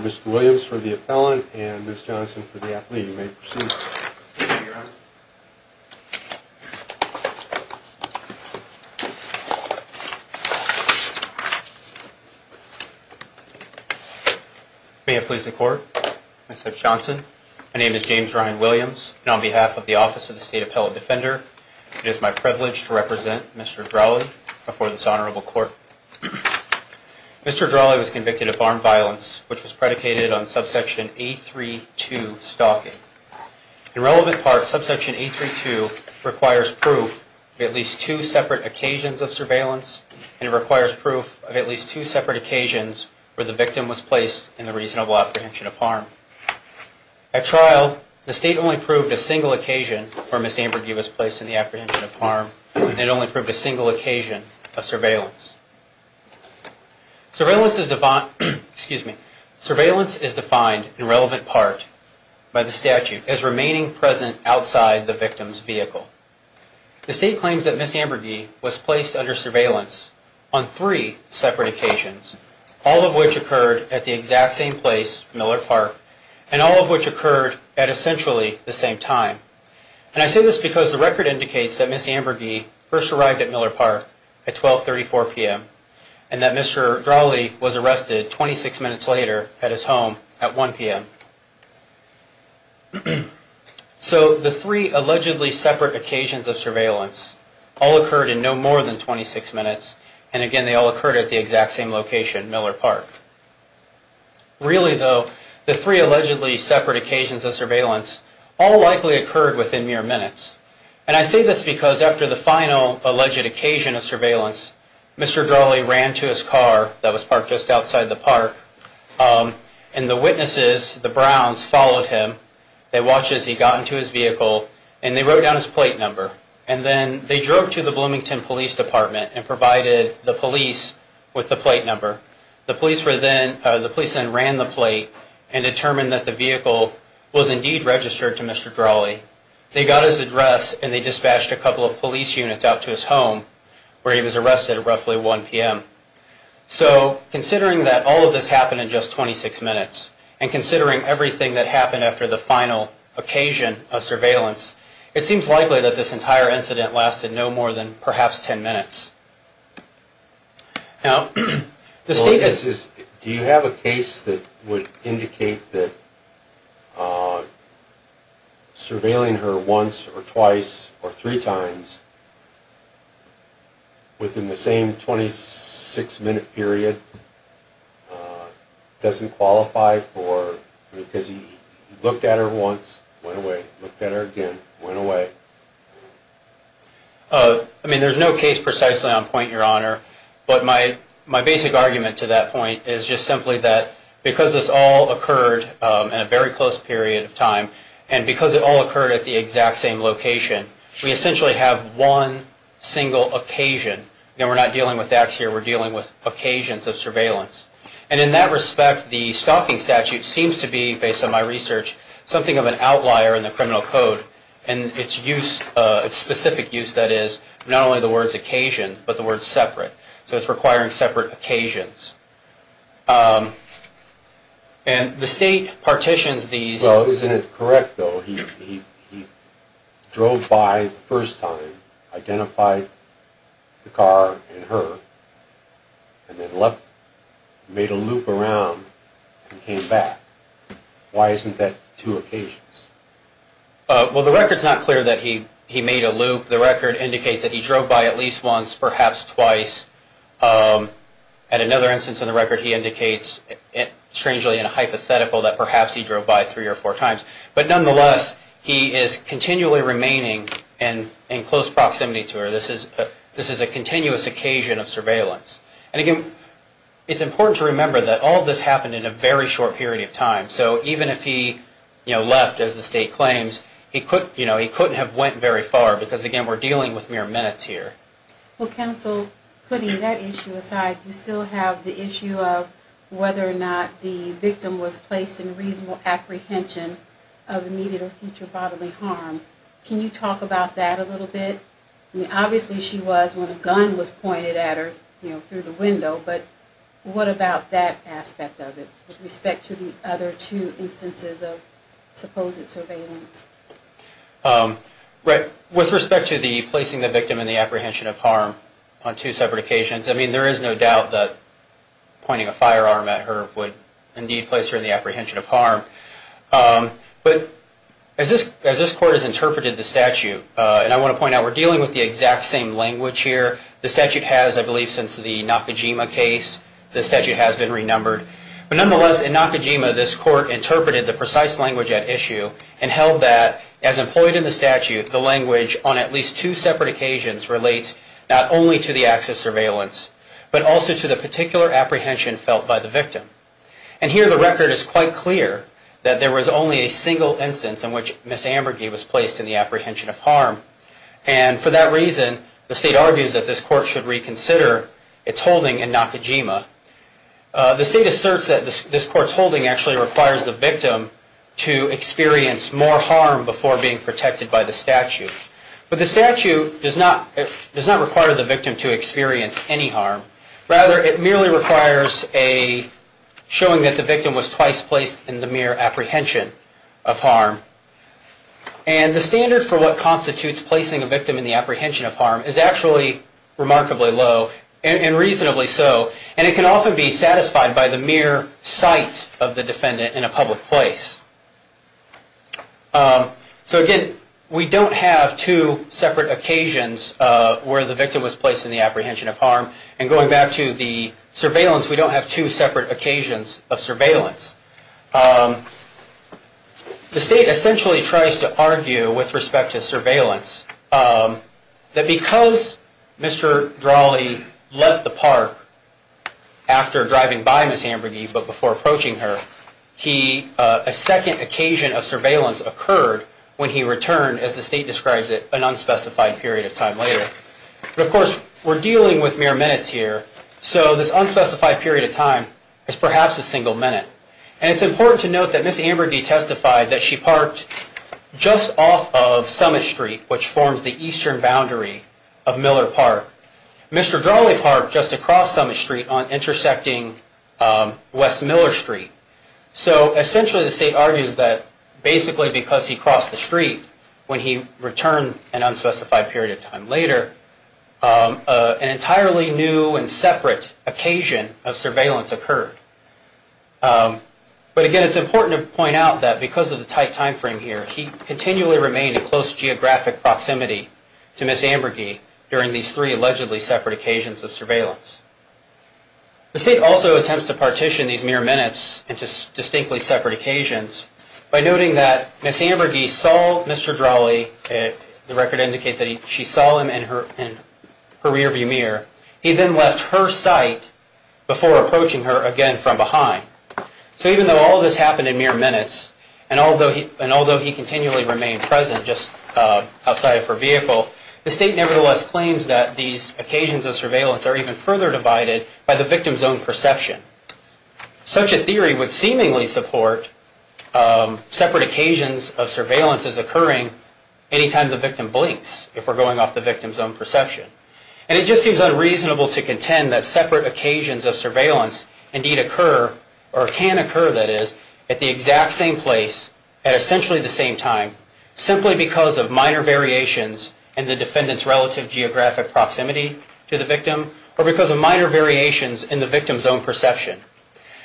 Mr. Williams for the appellant and Ms. Johnson for the athlete. You may proceed. May I please the court? I said Johnson. My name is James Ryan Williams. And on behalf of the Office of the State Appellate Defender, it is my privilege to represent Mr. Dralle before this honorable court. Mr. Dralle was convicted of armed violence, which was predicated on subsection 832 stalking. In relevant parts, subsection 832 requires proof of at least two separate occasions of surveillance, and it requires proof of at least two separate occasions where the victim was placed in the reasonable apprehension of harm. At trial, the state only proved a single occasion where Ms. Ambergy was placed in the apprehension of harm, and it only proved a single occasion of surveillance. Surveillance is defined in relevant part by the statute as remaining present outside the victim's vehicle. The state claims that Ms. Ambergy was placed under surveillance on three separate occasions, all of which occurred at the exact same place, Miller Park, and all of which occurred at essentially the same time. And I say this because the record indicates that Ms. Ambergy first arrived at Miller Park at 1234 p.m., and that Mr. Dralle was arrested 26 minutes later at his home at 1 p.m. So the three allegedly separate occasions of surveillance all occurred in no more than 26 minutes, and again, they all occurred at the exact same location, Miller Park. Really, though, the three allegedly separate occasions of surveillance all likely occurred within mere minutes. And I say this because after the final alleged occasion of surveillance, Mr. Dralle ran to his car that was parked just outside the park, and the witnesses, the Browns, followed him. They watched as he got into his vehicle, and they wrote down his plate number. And then they drove to the Bloomington Police Department and provided the police with the plate number. The police then ran the plate and determined that the vehicle was indeed registered to Mr. Dralle. They got his address, and they dispatched a couple of police units out to his home where he was arrested at roughly 1 p.m. So considering that all of this happened in just 26 minutes, and considering everything that happened after the final occasion of surveillance, it seems likely that this entire incident lasted no more than perhaps 10 minutes. Now, the state has... Do you have a case that would indicate that surveilling her once or twice or three times within the same 26-minute period doesn't qualify for... Because he looked at her once, went away, looked at her again, went away. I mean, there's no case precisely on point, Your Honor. But my basic argument to that point is just simply that because this all occurred in a very close period of time, and because it all occurred at the exact same location, we essentially have one single occasion. You know, we're not dealing with acts here. We're dealing with occasions of surveillance. And in that respect, the stalking statute seems to be, based on my research, something of an outlier in the criminal code. And its use, its specific use, that is, not only the word occasion, but the word separate. So it's requiring separate occasions. And the state partitions these... Well, isn't it correct, though, that he drove by the first time, identified the car and her, and then left, made a loop around, and came back? Why isn't that two occasions? Well, the record's not clear that he made a loop. The record indicates that he drove by at least once, perhaps twice. And another instance in the record, he indicates, strangely and hypothetical, that perhaps he drove by three or four times. But nonetheless, he is continually remaining in close proximity to her. This is a continuous occasion of surveillance. And again, it's important to remember that all of this happened in a very short period of time. So even if he left, as the state claims, he couldn't have went very far, because, again, we're dealing with mere minutes here. Well, counsel, putting that issue aside, you still have the issue of whether or not the victim was placed in reasonable apprehension of immediate or future bodily harm. Can you talk about that a little bit? I mean, obviously she was when a gun was pointed at her through the window, but what about that aspect of it, with respect to the other two instances of supposed surveillance? With respect to the placing the victim in the apprehension of harm on two separate occasions, I mean, there is no doubt that pointing a firearm at her would indeed place her in the apprehension of harm. But as this Court has interpreted the statute, and I want to point out we're dealing with the exact same language here. The statute has, I believe, since the Nakajima case, the statute has been renumbered. But nonetheless, in Nakajima, this Court interpreted the precise language at issue and held that, as employed in the statute, the language on at least two separate occasions relates not only to the acts of surveillance, but also to the particular apprehension felt by the victim. And here the record is quite clear that there was only a single instance in which Miss Ambergy was placed in the apprehension of harm. And for that reason, the State argues that this Court should reconsider its holding in Nakajima. The State asserts that this Court's holding actually requires the victim to experience more harm before being protected by the statute. But the statute does not require the victim to experience any harm. Rather, it merely requires showing that the victim was twice placed in the mere apprehension of harm. And the standard for what constitutes placing a victim in the apprehension of harm is actually remarkably low, and reasonably so. And it can often be satisfied by the mere sight of the defendant in a public place. So again, we don't have two separate occasions where the victim was placed in the apprehension of harm. And going back to the surveillance, we don't have two separate occasions of surveillance. The State essentially tries to argue, with respect to surveillance, that because Mr. Drahle left the park after driving by Miss Ambergy, but before approaching her, a second occasion of surveillance occurred when he returned, as the State describes it, an unspecified period of time later. But of course, we're dealing with mere minutes here, so this unspecified period of time is perhaps a single minute. And it's important to note that Miss Ambergy testified that she parked just off of Summit Street, which forms the eastern boundary of Miller Park. Mr. Drahle parked just across Summit Street on intersecting West Miller Street. So essentially, the State argues that basically because he crossed the street when he returned an unspecified period of time later, an entirely new and separate occasion of surveillance occurred. But again, it's important to point out that because of the tight time frame here, Miss Ambergy and Mr. Drahle continually remained in close geographic proximity to Miss Ambergy during these three allegedly separate occasions of surveillance. The State also attempts to partition these mere minutes into distinctly separate occasions by noting that Miss Ambergy saw Mr. Drahle, the record indicates that she saw him in her rearview mirror, he then left her sight before approaching her again from behind. So even though all of this happened in mere minutes, and although he continually remained present just outside of her vehicle, the State nevertheless claims that these occasions of surveillance are even further divided by the victim's own perception. Such a theory would seemingly support separate occasions of surveillance as occurring any time the victim blinks, if we're going off the victim's own perception. And it just seems unreasonable to contend that separate occasions of surveillance indeed occur, or can occur that is, at the exact same place at essentially the same time simply because of minor variations in the defendant's relative geographic proximity to the victim or because of minor variations in the victim's own perception.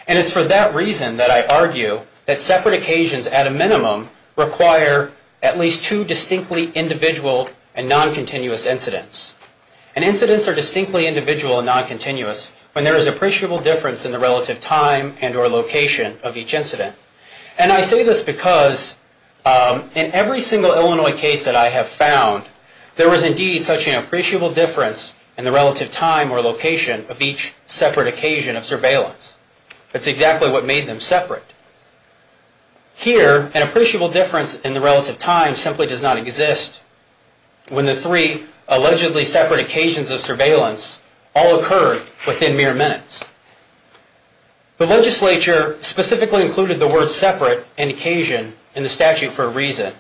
And it's for that reason that I argue that separate occasions at a minimum require at least two distinctly individual and non-continuous incidents. And incidents are distinctly individual and non-continuous when there is appreciable difference in the relative time and or location of each incident. And I say this because in every single Illinois case that I have found, there was indeed such an appreciable difference in the relative time or location of each separate occasion of surveillance. That's exactly what made them separate. Here, an appreciable difference in the relative time simply does not exist when the three allegedly separate occasions of surveillance all occurred within mere minutes. The legislature specifically included the word separate and occasion in the statute for a reason.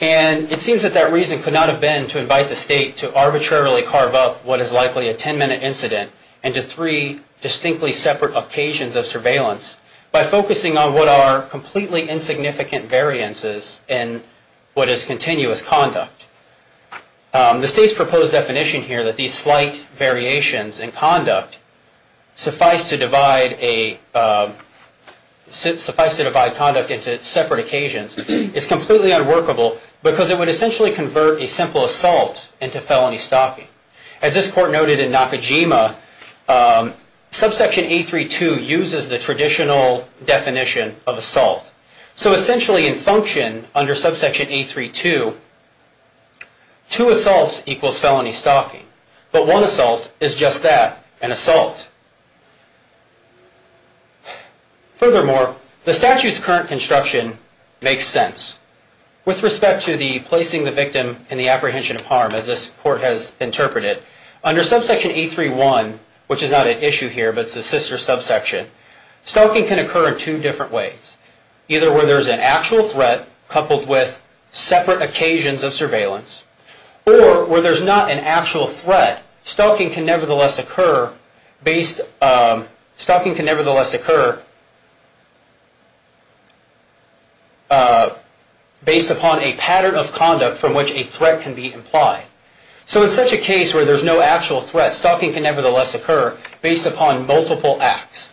And it seems that that reason could not have been to invite the state to arbitrarily carve up what is likely a ten-minute incident into three distinctly separate occasions of surveillance by focusing on what are completely insignificant variances in what is continuous conduct. The state's proposed definition here that these slight variations in conduct suffice to divide conduct into separate occasions is completely unworkable because it would essentially convert a simple assault into felony stalking. As this court noted in Nakajima, subsection A-3-2 uses the traditional definition of assault. So essentially in function under subsection A-3-2, two assaults equals felony stalking. But one assault is just that, an assault. Furthermore, the statute's current construction makes sense. With respect to the placing the victim in the apprehension of harm, as this court has interpreted, under subsection A-3-1, which is not at issue here, but it's a sister subsection, stalking can occur in two different ways. Either where there's an actual threat coupled with separate occasions of surveillance, or where there's not an actual threat, stalking can nevertheless occur based upon a pattern of conduct from which a threat can be implied. So in such a case where there's no actual threat, stalking can nevertheless occur based upon multiple acts.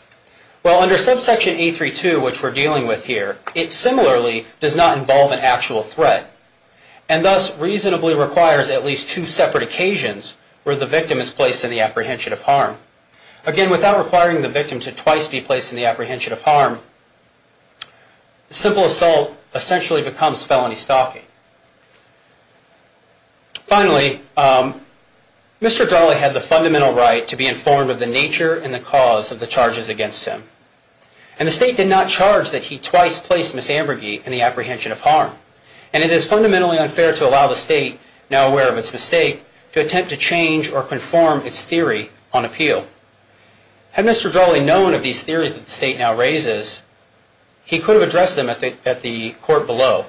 Well, under subsection A-3-2, which we're dealing with here, it similarly does not involve an actual threat. And thus reasonably requires at least two separate occasions where the victim is placed in the apprehension of harm. Again, without requiring the victim to twice be placed in the apprehension of harm, simple assault essentially becomes felony stalking. Finally, Mr. Darley had the fundamental right to be informed of the nature and the cause of the charges against him. And the state did not charge that he twice placed Ms. Ambergy in the apprehension of harm. And it is fundamentally unfair to allow the state, now aware of its mistake, to attempt to change or conform its theory on appeal. Had Mr. Darley known of these theories that the state now raises, he could have addressed them at the court below.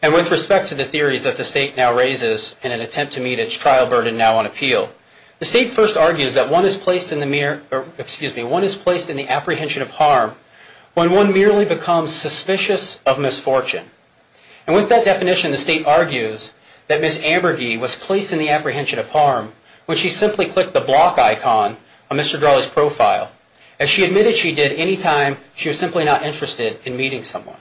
And with respect to the theories that the state now raises in an attempt to meet its trial burden now on appeal, the state first argues that one is placed in the apprehension of harm when one merely becomes suspicious of misfortune. And with that definition, the state argues that Ms. Ambergy was placed in the apprehension of harm when she simply clicked the block icon on Mr. Darley's profile, as she admitted she did any time she was simply not interested in meeting someone.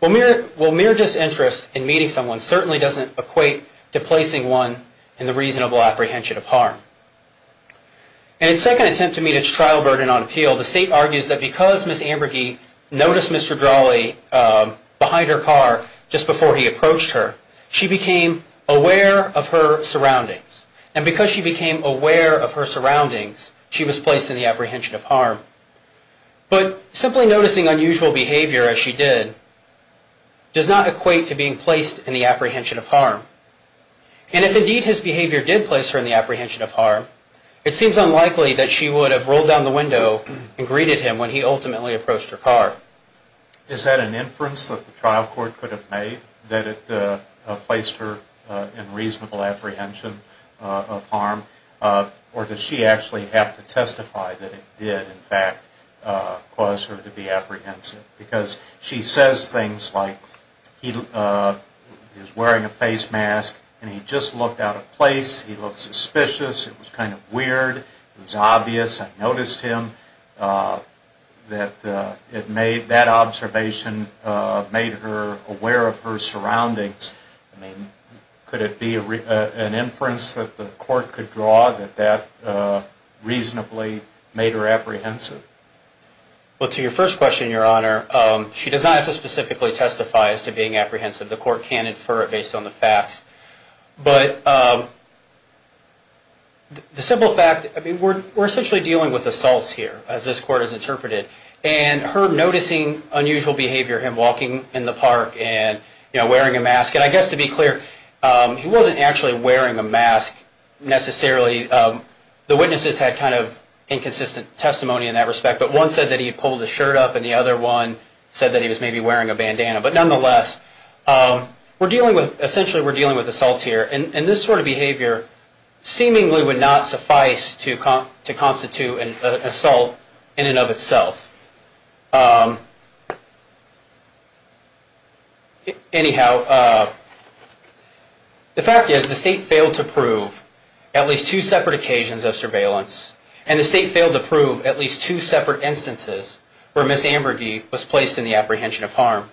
Well, mere disinterest in meeting someone certainly doesn't equate to placing one in the reasonable apprehension of harm. And in its second attempt to meet its trial burden on appeal, the state argues that because Ms. Ambergy noticed Mr. Darley behind her car just before he approached her, she became aware of her surroundings. And because she became aware of her surroundings, she was placed in the apprehension of harm. But simply noticing unusual behavior, as she did, does not equate to being placed in the apprehension of harm. And if indeed his behavior did place her in the apprehension of harm, it seems unlikely that she would have rolled down the window and greeted him when he ultimately approached her car. Is that an inference that the trial court could have made, that it placed her in reasonable apprehension of harm? Or does she actually have to testify that it did, in fact, cause her to be apprehensive? Because she says things like, he was wearing a face mask and he just looked out of place, he looked suspicious, it was kind of weird, it was obvious, I noticed him, that observation made her aware of her surroundings. I mean, could it be an inference that the court could draw that that reasonably made her apprehensive? Well, to your first question, Your Honor, she does not have to specifically testify as to being apprehensive. The court can infer it based on the facts. But the simple fact, I mean, we're essentially dealing with assaults here, as this court has interpreted. And her noticing unusual behavior, him walking in the park and, you know, wearing a mask, and I guess to be clear, he wasn't actually wearing a mask necessarily. The witnesses had kind of inconsistent testimony in that respect, but one said that he pulled his shirt up and the other one said that he was maybe wearing a bandana. But nonetheless, we're dealing with, essentially we're dealing with assaults here. And this sort of behavior seemingly would not suffice to constitute an assault in and of itself. Anyhow, the fact is, the state failed to prove at least two separate occasions of surveillance and the state failed to prove at least two separate instances where Ms. Amberdee was placed in the apprehension of harm.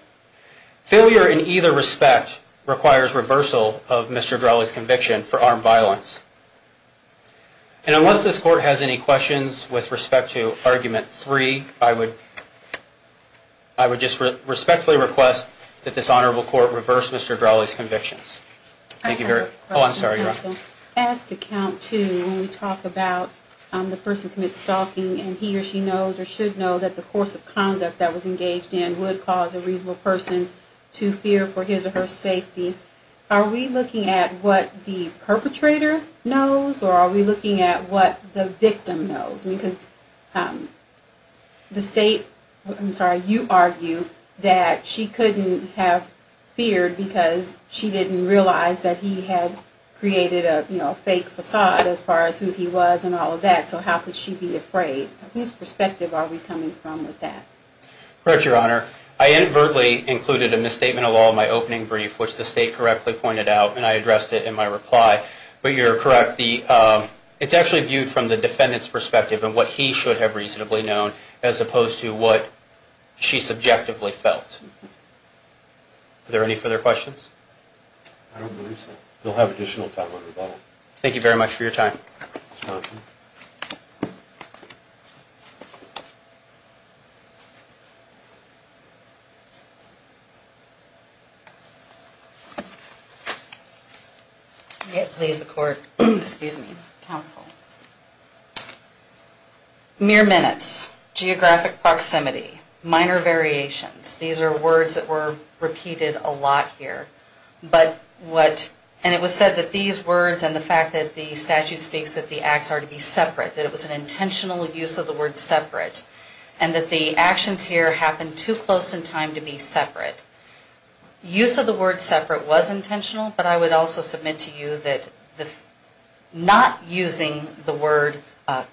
Failure in either respect requires reversal of Mr. Drahle's conviction for armed violence. And unless this court has any questions with respect to Argument 3, I would like to move on to Argument 4. And I would just respectfully request that this honorable court reverse Mr. Drahle's convictions. Thank you very much. Oh, I'm sorry, you're on. As to Count 2, when we talk about the person commits stalking and he or she knows or should know that the course of conduct that was engaged in would cause a reasonable person to fear for his or her safety, are we looking at what the perpetrator knows or are we looking at what the victim knows? Because the state, I'm sorry, you argue that she couldn't have feared because she didn't realize that he had created a fake facade as far as who he was and all of that. So how could she be afraid? Whose perspective are we coming from with that? Correct, Your Honor. I inadvertently included a misstatement along my opening brief, which the state correctly pointed out, and I addressed it in my reply. But you're correct. It's actually viewed from the defendant's perspective and what he should have reasonably known as opposed to what she subjectively felt. Are there any further questions? I don't believe so. We'll have additional time on rebuttal. You're welcome. Thank you. May it please the Court. Excuse me. Counsel. Mere minutes. Geographic proximity. Minor variations. These are words that were repeated a lot here. And it was said that these words and the fact that the statute speaks that the acts are to be separate, that it was an intentional use of the word separate, and that the actions here happened too close in time to be separate. Use of the word separate was intentional, but I would also submit to you that not using the word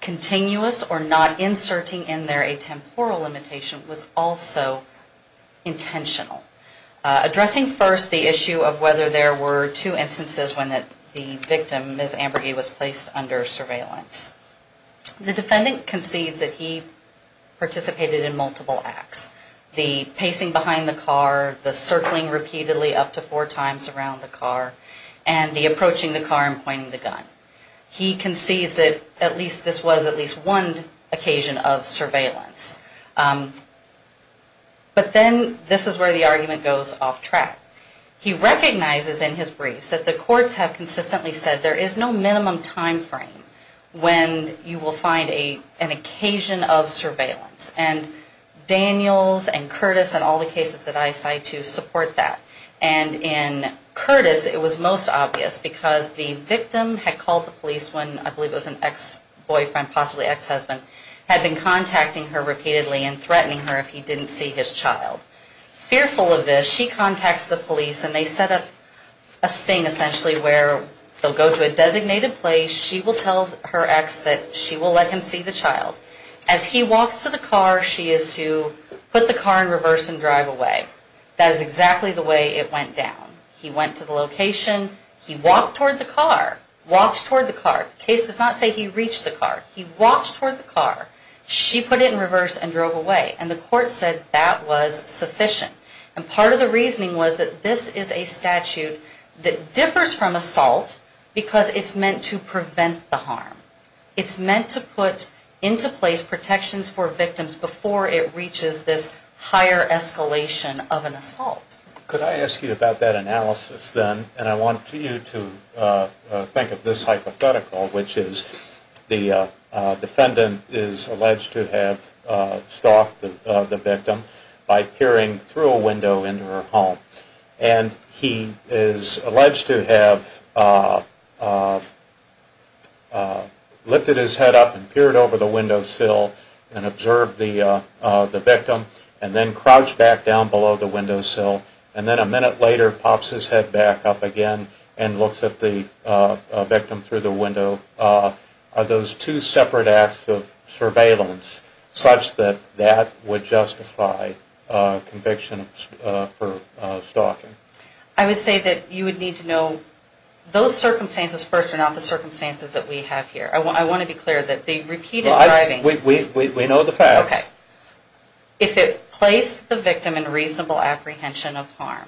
continuous or not inserting in there a temporal limitation was also intentional. Addressing first the issue of whether there were two instances when the victim, Ms. Ambergay, was placed under surveillance. The defendant concedes that he participated in multiple acts. The pacing behind the car, the circling repeatedly up to four times around the car, and the approaching the car and pointing the gun. He concedes that this was at least one occasion of surveillance. But then this is where the argument goes off track. He recognizes in his briefs that the courts have consistently said there is no minimum time frame when you will find an occasion of surveillance. And Daniels and Curtis and all the cases that I cite to support that. And in Curtis it was most obvious because the victim had called the police when I believe it was an ex-boyfriend, possibly ex-husband, had been contacting her repeatedly and threatening her if he didn't see his child. Fearful of this, she contacts the police and they set up a sting essentially where they'll go to a designated place. She will tell her ex that she will let him see the child. As he walks to the car, she is to put the car in reverse and drive away. That is exactly the way it went down. He went to the location. He walked toward the car. Walked toward the car. The case does not say he reached the car. He walked toward the car. She put it in reverse and drove away. And the court said that was sufficient. And part of the reasoning was that this is a statute that differs from assault because it's meant to prevent the harm. It's meant to put into place protections for victims before it reaches this higher escalation of an assault. Could I ask you about that analysis then? And I want you to think of this hypothetical, which is the defendant is alleged to have stalked the victim by peering through a window into her home. And he is alleged to have lifted his head up and peered over the windowsill and observed the victim and then crouched back down below the windowsill. And then a minute later pops his head back up again and looks at the victim through the window. Are those two separate acts of surveillance such that that would justify conviction for stalking? I would say that you would need to know those circumstances first and not the circumstances that we have here. I want to be clear that the repeated driving... We know the facts. Okay. If it placed the victim in reasonable apprehension of harm,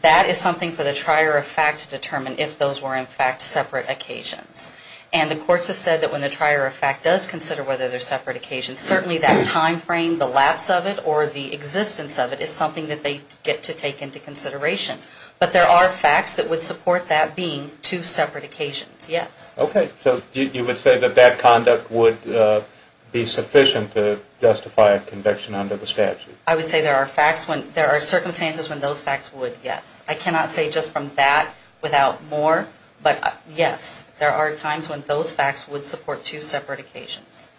that is something for the trier of fact to determine if those were in fact separate occasions. And the courts have said that when the trier of fact does consider whether they're separate occasions, certainly that time frame, the lapse of it, or the existence of it is something that they get to take into consideration. But there are facts that would support that being two separate occasions, yes. Okay. So you would say that that conduct would be sufficient to justify a conviction under the statute? I would say there are circumstances when those facts would, yes. I cannot say just from that without more, but yes, there are times when those facts would support two separate occasions.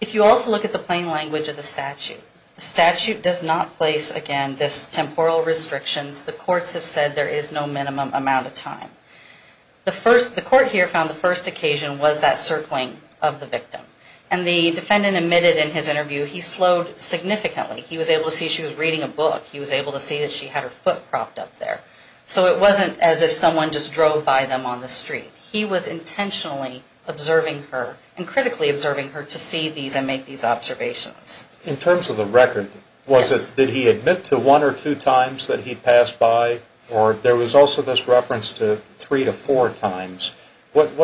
If you also look at the plain language of the statute, the statute does not place, again, this temporal restrictions. The courts have said there is no minimum amount of time. The court here found the first occasion was that circling of the victim. And the defendant admitted in his interview he slowed significantly. He was able to see she was reading a book. He was able to see that she had her foot propped up there. So it wasn't as if someone just drove by them on the street. He was intentionally observing her and critically observing her to see these and make these observations. In terms of the record, did he admit to one or two times that he passed by? Or there was also this reference to three to four times. What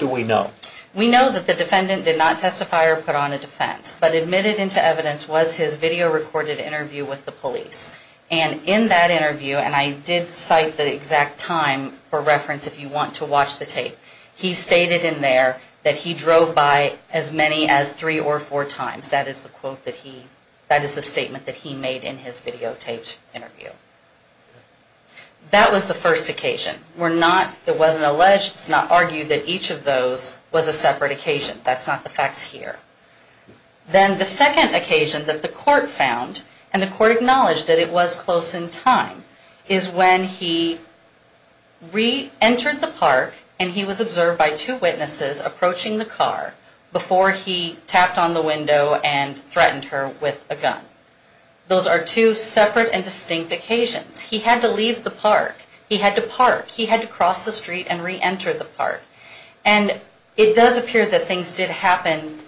do we know? We know that the defendant did not testify or put on a defense. But admitted into evidence was his video recorded interview with the police. And in that interview, and I did cite the exact time for reference if you want to watch the tape, he stated in there that he drove by as many as three or four times. That is the quote that he, that is the statement that he made in his videotaped interview. That was the first occasion. We're not, it wasn't alleged, it's not argued that each of those was a separate occasion. That's not the facts here. Then the second occasion that the court found, and the court acknowledged that it was close in time, is when he re-entered the park and he was observed by two witnesses approaching the car before he tapped on the window and threatened her with a gun. Those are two separate and distinct occasions. He had to leave the park. He had to park. He had to cross the street and re-enter the park. And it does appear that things did happen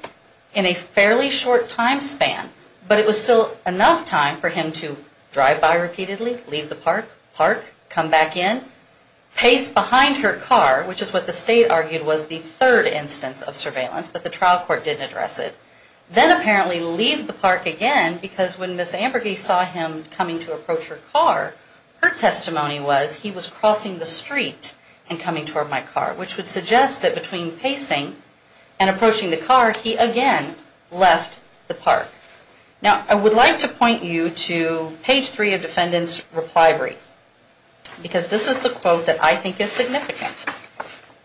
in a fairly short time span, but it was still enough time for him to drive by repeatedly, leave the park, park, come back in, pace behind her car, which is what the state argued was the third instance of surveillance, but the trial court didn't address it. Then apparently leave the park again because when Ms. Ambergy saw him coming to approach her car, her testimony was he was crossing the street and coming toward my car, which would suggest that between pacing and approaching the car, he again left the park. Now, I would like to point you to page three of defendant's reply brief, because this is the quote that I think is significant.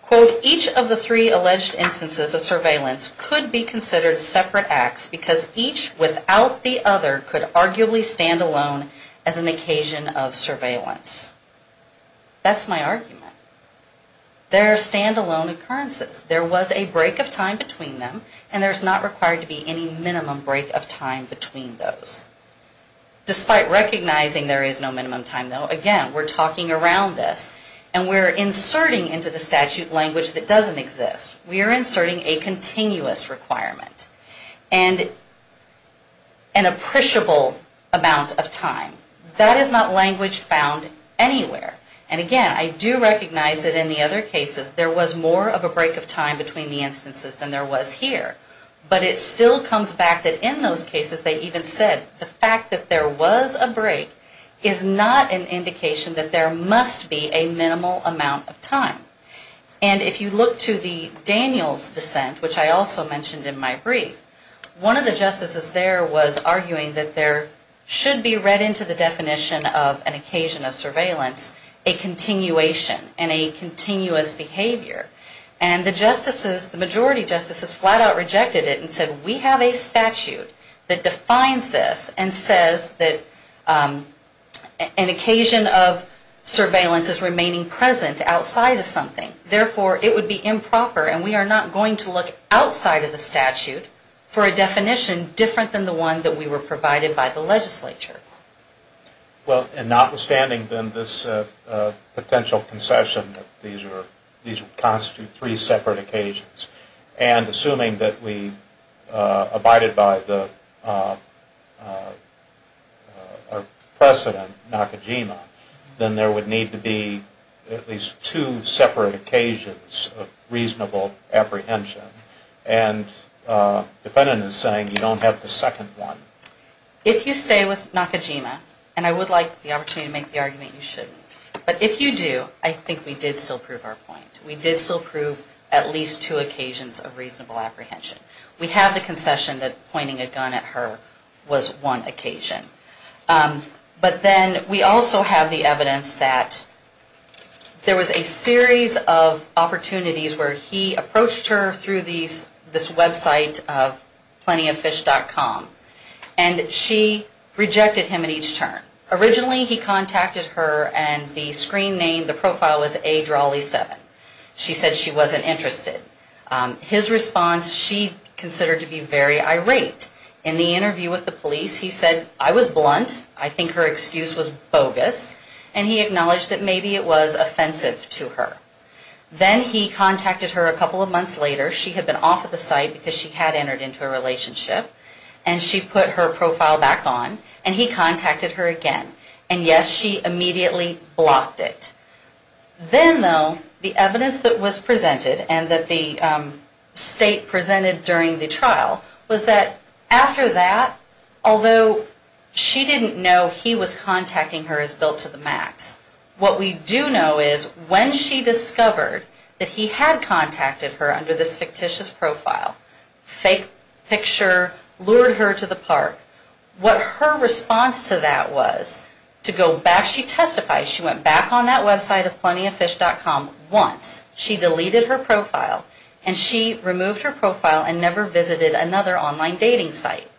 Quote, each of the three alleged instances of surveillance could be considered separate acts because each without the other could arguably stand alone as an occasion of surveillance. That's my argument. There are standalone occurrences. There was a break of time between them, and there's not required to be any minimum break of time between those. Despite recognizing there is no minimum time, though, again, we're talking around this, and we're inserting into the statute language that doesn't exist. We are inserting a continuous requirement and an appreciable amount of time. That is not language found anywhere. And again, I do recognize that in the other cases, there was more of a break of time between the instances than there was here. But it still comes back that in those cases they even said the fact that there was a break is not an indication that there must be a minimal amount of time. And if you look to the Daniels dissent, which I also mentioned in my brief, one of the justices there was arguing that there should be read into the definition of an occasion of surveillance a continuation and a continuous behavior. And the majority justices flat out rejected it and said, we have a statute that defines this and says that an occasion of surveillance is remaining present outside of something. Therefore, it would be improper, and we are not going to look outside of the statute for a definition different than the one that we were provided by the legislature. Well, and notwithstanding, then, this potential concession that these constitute three separate occasions. And assuming that we abided by our precedent, NACAGEMA, then there would need to be at least two separate occasions of reasonable apprehension. And defendant is saying you don't have the second one. If you stay with NACAGEMA, and I would like the opportunity to make the argument you shouldn't, but if you do, I think we did still prove our point. We did still prove at least two occasions of reasonable apprehension. We have the concession that pointing a gun at her was one occasion. But then we also have the evidence that there was a series of opportunities where he approached her through this website of plentyoffish.com, and she rejected him at each turn. Originally, he contacted her, and the screen name, the profile was adrolly7. She said she wasn't interested. His response, she considered to be very irate. In the interview with the police, he said, I was blunt. I think her excuse was bogus. And he acknowledged that maybe it was offensive to her. Then he contacted her a couple of months later. She had been off of the site because she had entered into a relationship, and she put her profile back on, and he contacted her again. And yes, she immediately blocked it. Then, though, the evidence that was presented and that the state presented during the trial was that after that, although she didn't know he was contacting her as built to the max, what we do know is when she discovered that he had contacted her under this fictitious profile, fake picture, lured her to the park, what her response to that was to go back, she testified she went back on that website of plentyoffish.com once. She deleted her profile, and she removed her profile and never visited another online dating site.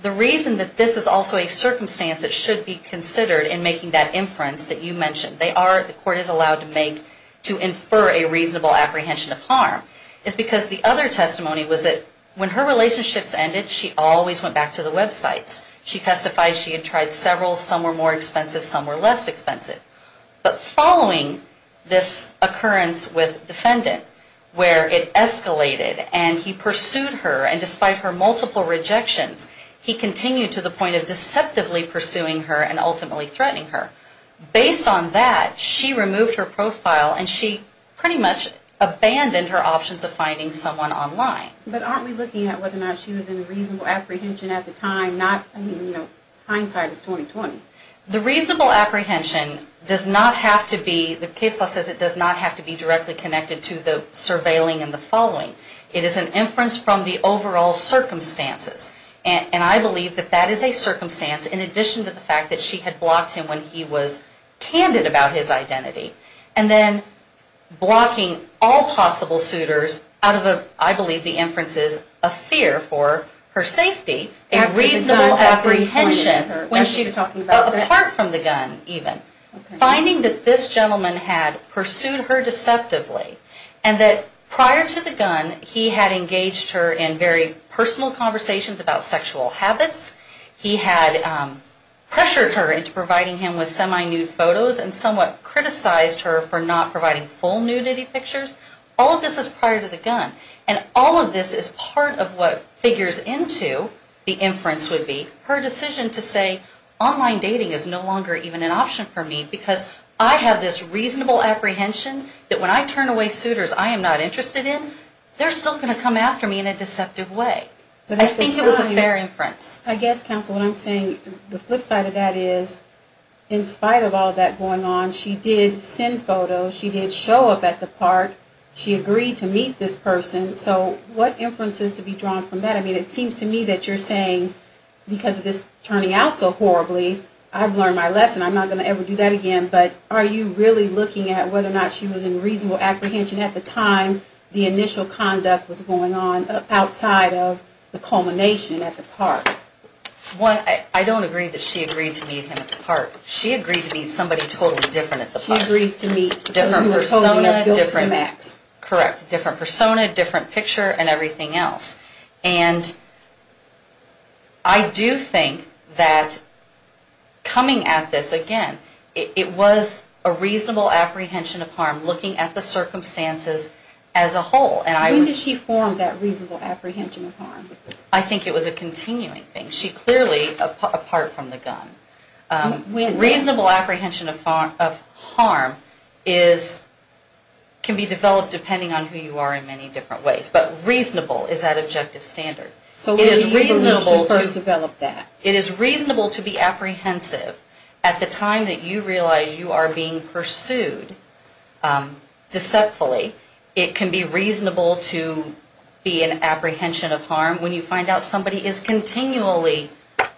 The reason that this is also a circumstance that should be considered in making that inference that you mentioned, they are, the court is allowed to make, to infer a reasonable apprehension of harm, is because the other testimony was that when her relationships ended, she always went back to the websites. She testified she had tried several. Some were more expensive. Some were less expensive. But following this occurrence with defendant, where it escalated, and he pursued her, and despite her multiple rejections, he continued to the point of deceptively pursuing her and ultimately threatening her, based on that, she removed her profile and she pretty much abandoned her options of finding someone online. But aren't we looking at whether or not she was in reasonable apprehension at the time, not, I mean, you know, hindsight is 20-20. The reasonable apprehension does not have to be, the case law says it does not have to be directly connected to the surveilling and the following. It is an inference from the overall circumstances, and I believe that that is a circumstance in addition to the fact that she had blocked him when he was candid about his identity. And then blocking all possible suitors out of a, I believe the inference is, a fear for her safety, a reasonable apprehension, apart from the gun even. Finding that this gentleman had pursued her deceptively, and that prior to the gun, he had engaged her in very personal conversations about sexual habits. He had pressured her into providing him with semi-nude photos and somewhat criticized her for not providing full nudity pictures. All of this is prior to the gun. And all of this is part of what figures into, the inference would be, her decision to say online dating is no longer even an option for me because I have this reasonable apprehension that when I turn away suitors I am not interested in, they're still going to come after me in a deceptive way. But I think it was a fair inference. I guess, counsel, what I'm saying, the flip side of that is, in spite of all that going on, she did send photos, she did show up at the park, she agreed to meet this person, so what inference is to be drawn from that? I mean, it seems to me that you're saying, because of this turning out so horribly, I've learned my lesson, I'm not going to ever do that again, but are you really looking at whether or not she was in reasonable apprehension at the time the initial conduct was going on outside of the culmination at the park? Well, I don't agree that she agreed to meet him at the park. She agreed to meet somebody totally different at the park. She agreed to meet someone who was posing as Bill Tremax. Correct. Different persona, different picture, and everything else. And I do think that coming at this, again, it was a reasonable apprehension of harm, looking at the circumstances as a whole. When did she form that reasonable apprehension of harm? I think it was a continuing thing. She clearly, apart from the gun. Reasonable apprehension of harm can be developed depending on who you are in many different ways, but reasonable is that objective standard. So when did you first develop that? It is reasonable to be apprehensive. At the time that you realize you are being pursued deceptively, it can be reasonable to be in apprehension of harm when you find out somebody is continually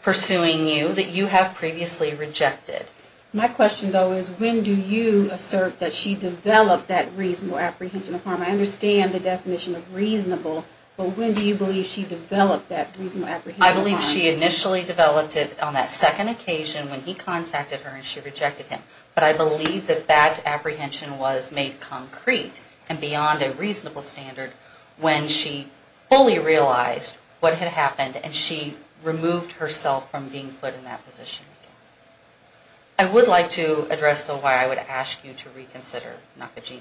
pursuing you that you have previously rejected. My question, though, is when do you assert that she developed that reasonable apprehension of harm? I understand the definition of reasonable, but when do you believe she developed that reasonable apprehension of harm? I believe she initially developed it on that second occasion when he contacted her and she rejected him. But I believe that that apprehension was made concrete and beyond a reasonable standard when she fully realized what had happened and she removed herself from being put in that position. I would like to address, though, why I would ask you to reconsider Nakajima.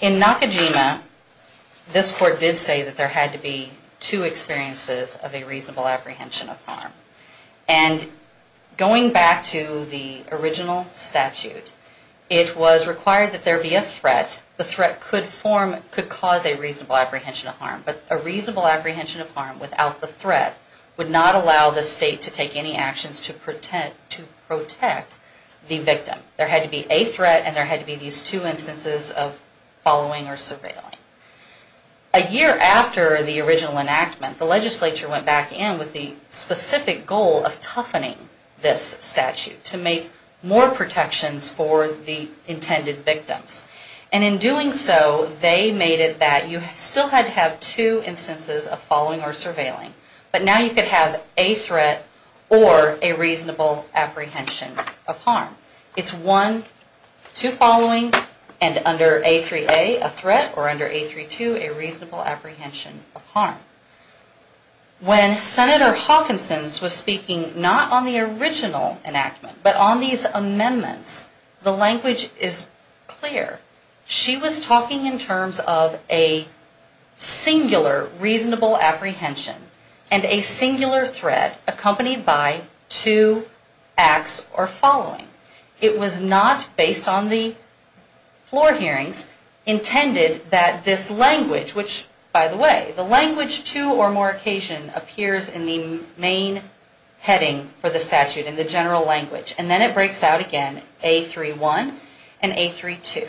In Nakajima, this court did say that there had to be two experiences of a reasonable apprehension of harm. And going back to the original statute, it was required that there be a threat. The threat could cause a reasonable apprehension of harm, but a reasonable apprehension of harm without the threat would not allow the state to take any actions to protect the victim. There had to be a threat and there had to be these two instances of following or surveilling. A year after the original enactment, the legislature went back in with the specific goal of toughening this statute to make more protections for the intended victims. And in doing so, they made it that you still had to have two instances of following or surveilling, but now you could have a threat or a reasonable apprehension of harm. It's one, two following, and under A3A, a threat, or under A32, a reasonable apprehension of harm. When Senator Hawkinson was speaking not on the original enactment, but on these amendments, the language is clear. She was talking in terms of a singular reasonable apprehension and a singular threat accompanied by two acts or following. It was not, based on the floor hearings, intended that this language, which by the way, the language two or more occasion appears in the main heading for the statute in the general language. And then it breaks out again, A31 and A32.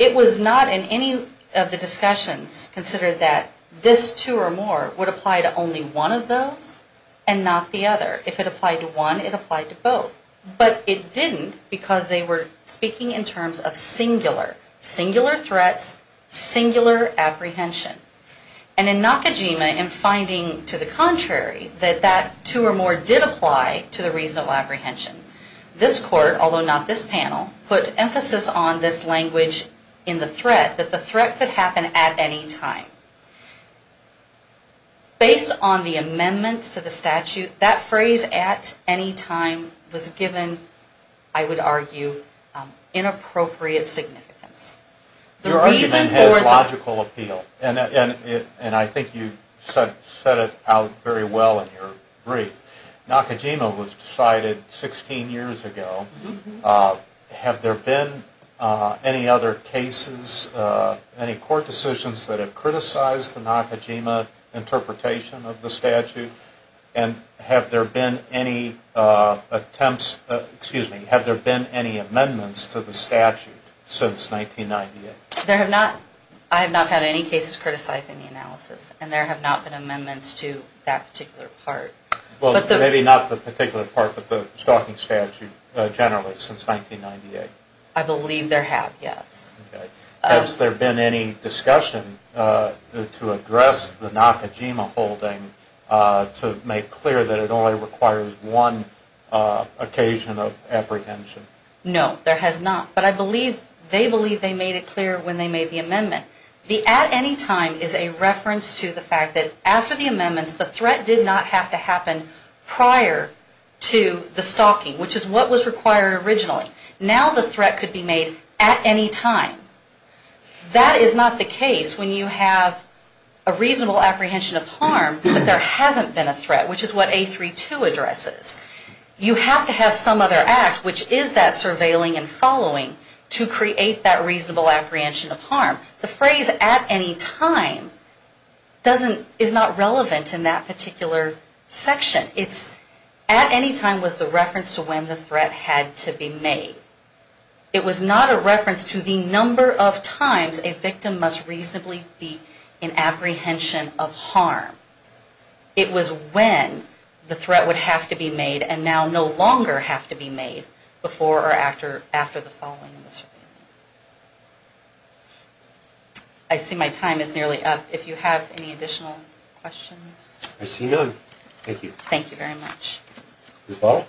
It was not in any of the discussions considered that this two or more would apply to only one of those and not the other. If it applied to one, it applied to both. But it didn't because they were speaking in terms of singular, singular threats, singular apprehension. And in Nakajima, in finding to the contrary, that that two or more did apply to the reasonable apprehension. This court, although not this panel, put emphasis on this language in the threat, that the threat could happen at any time. Based on the amendments to the statute, that phrase, at any time, was given, I would argue, inappropriate significance. Your argument has logical appeal. And I think you set it out very well in your brief. Nakajima was decided 16 years ago. Have there been any other cases, any court decisions that have criticized the Nakajima interpretation of the statute? And have there been any attempts, excuse me, have there been any amendments to the statute since 1998? I have not had any cases criticizing the analysis. And there have not been amendments to that particular part. Maybe not the particular part, but the stalking statute generally since 1998. I believe there have, yes. Has there been any discussion to address the Nakajima holding, to make clear that it only requires one occasion of apprehension? No, there has not. But I believe, they believe they made it clear when they made the amendment. The at any time is a reference to the fact that after the amendments, the threat did not have to happen prior to the stalking, which is what was required originally. Now the threat could be made at any time. That is not the case when you have a reasonable apprehension of harm, but there hasn't been a threat, which is what 832 addresses. You have to have some other act, which is that surveilling and following to create that reasonable apprehension of harm. The phrase at any time is not relevant in that particular section. At any time was the reference to when the threat had to be made. It was not a reference to the number of times a victim must reasonably be in apprehension of harm. It was when the threat would have to be made and now no longer have to be made before or after the following surveilling. I see my time is nearly up. If you have any additional questions. Thank you very much. I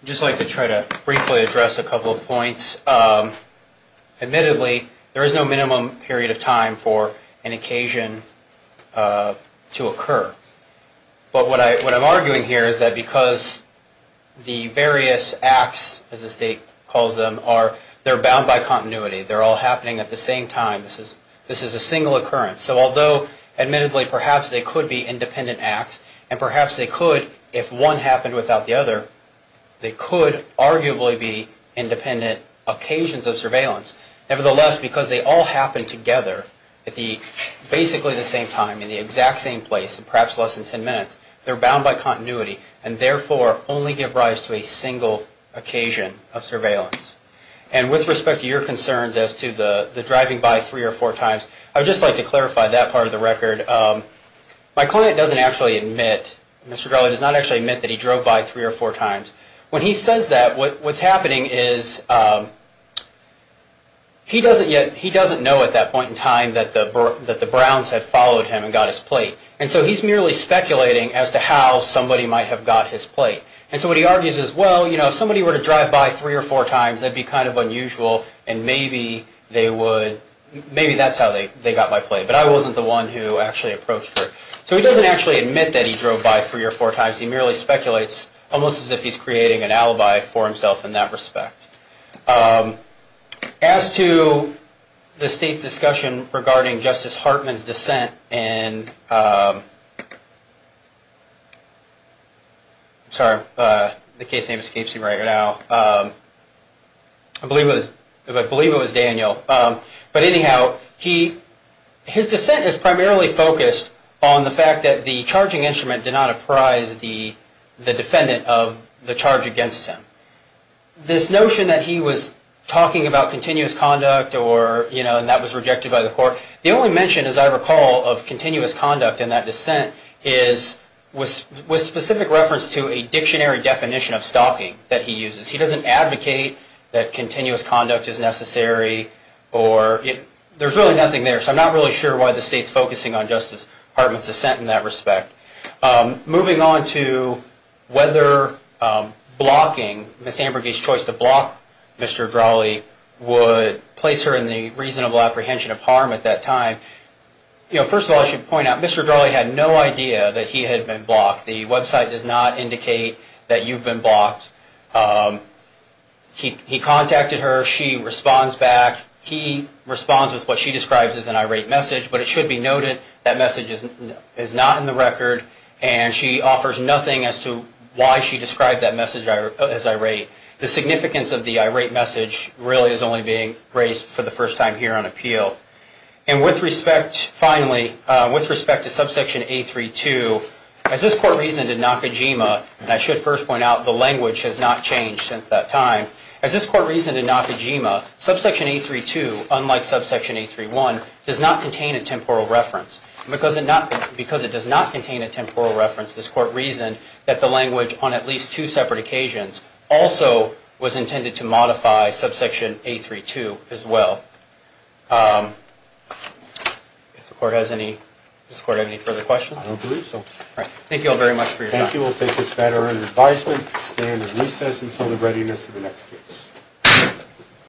would just like to try to briefly address a couple of points. Admittedly, there is no minimum period of time for an occasion to occur. But what I'm arguing here is that because the various acts, as the state calls them, are bound by continuity. They're all happening at the same time. This is a single occurrence. Although, admittedly, perhaps they could be independent acts and perhaps they could, if one happened without the other, they could arguably be independent occasions of surveillance. Nevertheless, because they all happen together at basically the same time in the exact same place in perhaps less than ten minutes, they're bound by continuity and therefore only give rise to a single occasion of surveillance. And with respect to your concerns as to the driving by three or four times, I would just like to clarify that part of the record. My client does not actually admit that he drove by three or four times. When he says that, what's happening is he doesn't know at that point in time that the Browns had followed him and got his plate. And so he's merely speculating as to how somebody might have got his plate. And so what he argues is, well, if somebody were to drive by three or four times, that'd be kind of unusual and maybe that's how they got my plate. But I wasn't the one who actually approached her. So he doesn't actually admit that he drove by three or four times. He merely speculates, almost as if he's creating an alibi for himself in that respect. As to the state's discussion regarding Justice Hartman's dissent in... I don't know where the case name escapes me right now. I believe it was Daniel. But anyhow, his dissent is primarily focused on the fact that the charging instrument did not apprise the defendant of the charge against him. This notion that he was talking about continuous conduct and that was rejected by the court, the only mention, as I recall, of continuous conduct in that dissent was specific reference to a dictionary definition of stalking that he uses. He doesn't advocate that continuous conduct is necessary. There's really nothing there. So I'm not really sure why the state's focusing on Justice Hartman's dissent in that respect. Moving on to whether blocking, Ms. Ambergy's choice to block Mr. Drahle would place her in the reasonable apprehension of harm at that time. First of all, I should point out, Mr. Drahle had no idea that he had been blocked. The website does not indicate that you've been blocked. He contacted her. She responds back. He responds with what she describes as an irate message, but it should be noted that message is not in the record, and she offers nothing as to why she described that message as irate. The significance of the irate message really is only being raised for the first time here on appeal. And with respect, finally, with respect to subsection A-3-2, as this court reasoned in Nakajima, and I should first point out the language has not changed since that time, as this court reasoned in Nakajima, subsection A-3-2, unlike subsection A-3-1, does not contain a temporal reference. Because it does not contain a temporal reference, this court reasoned that the language on at least two separate occasions also was intended to modify subsection A-3-2 as well. Does the court have any further questions? I don't believe so. Thank you all very much for your time. Thank you. We'll take this matter under advisement and stand in recess until the readiness of the next case.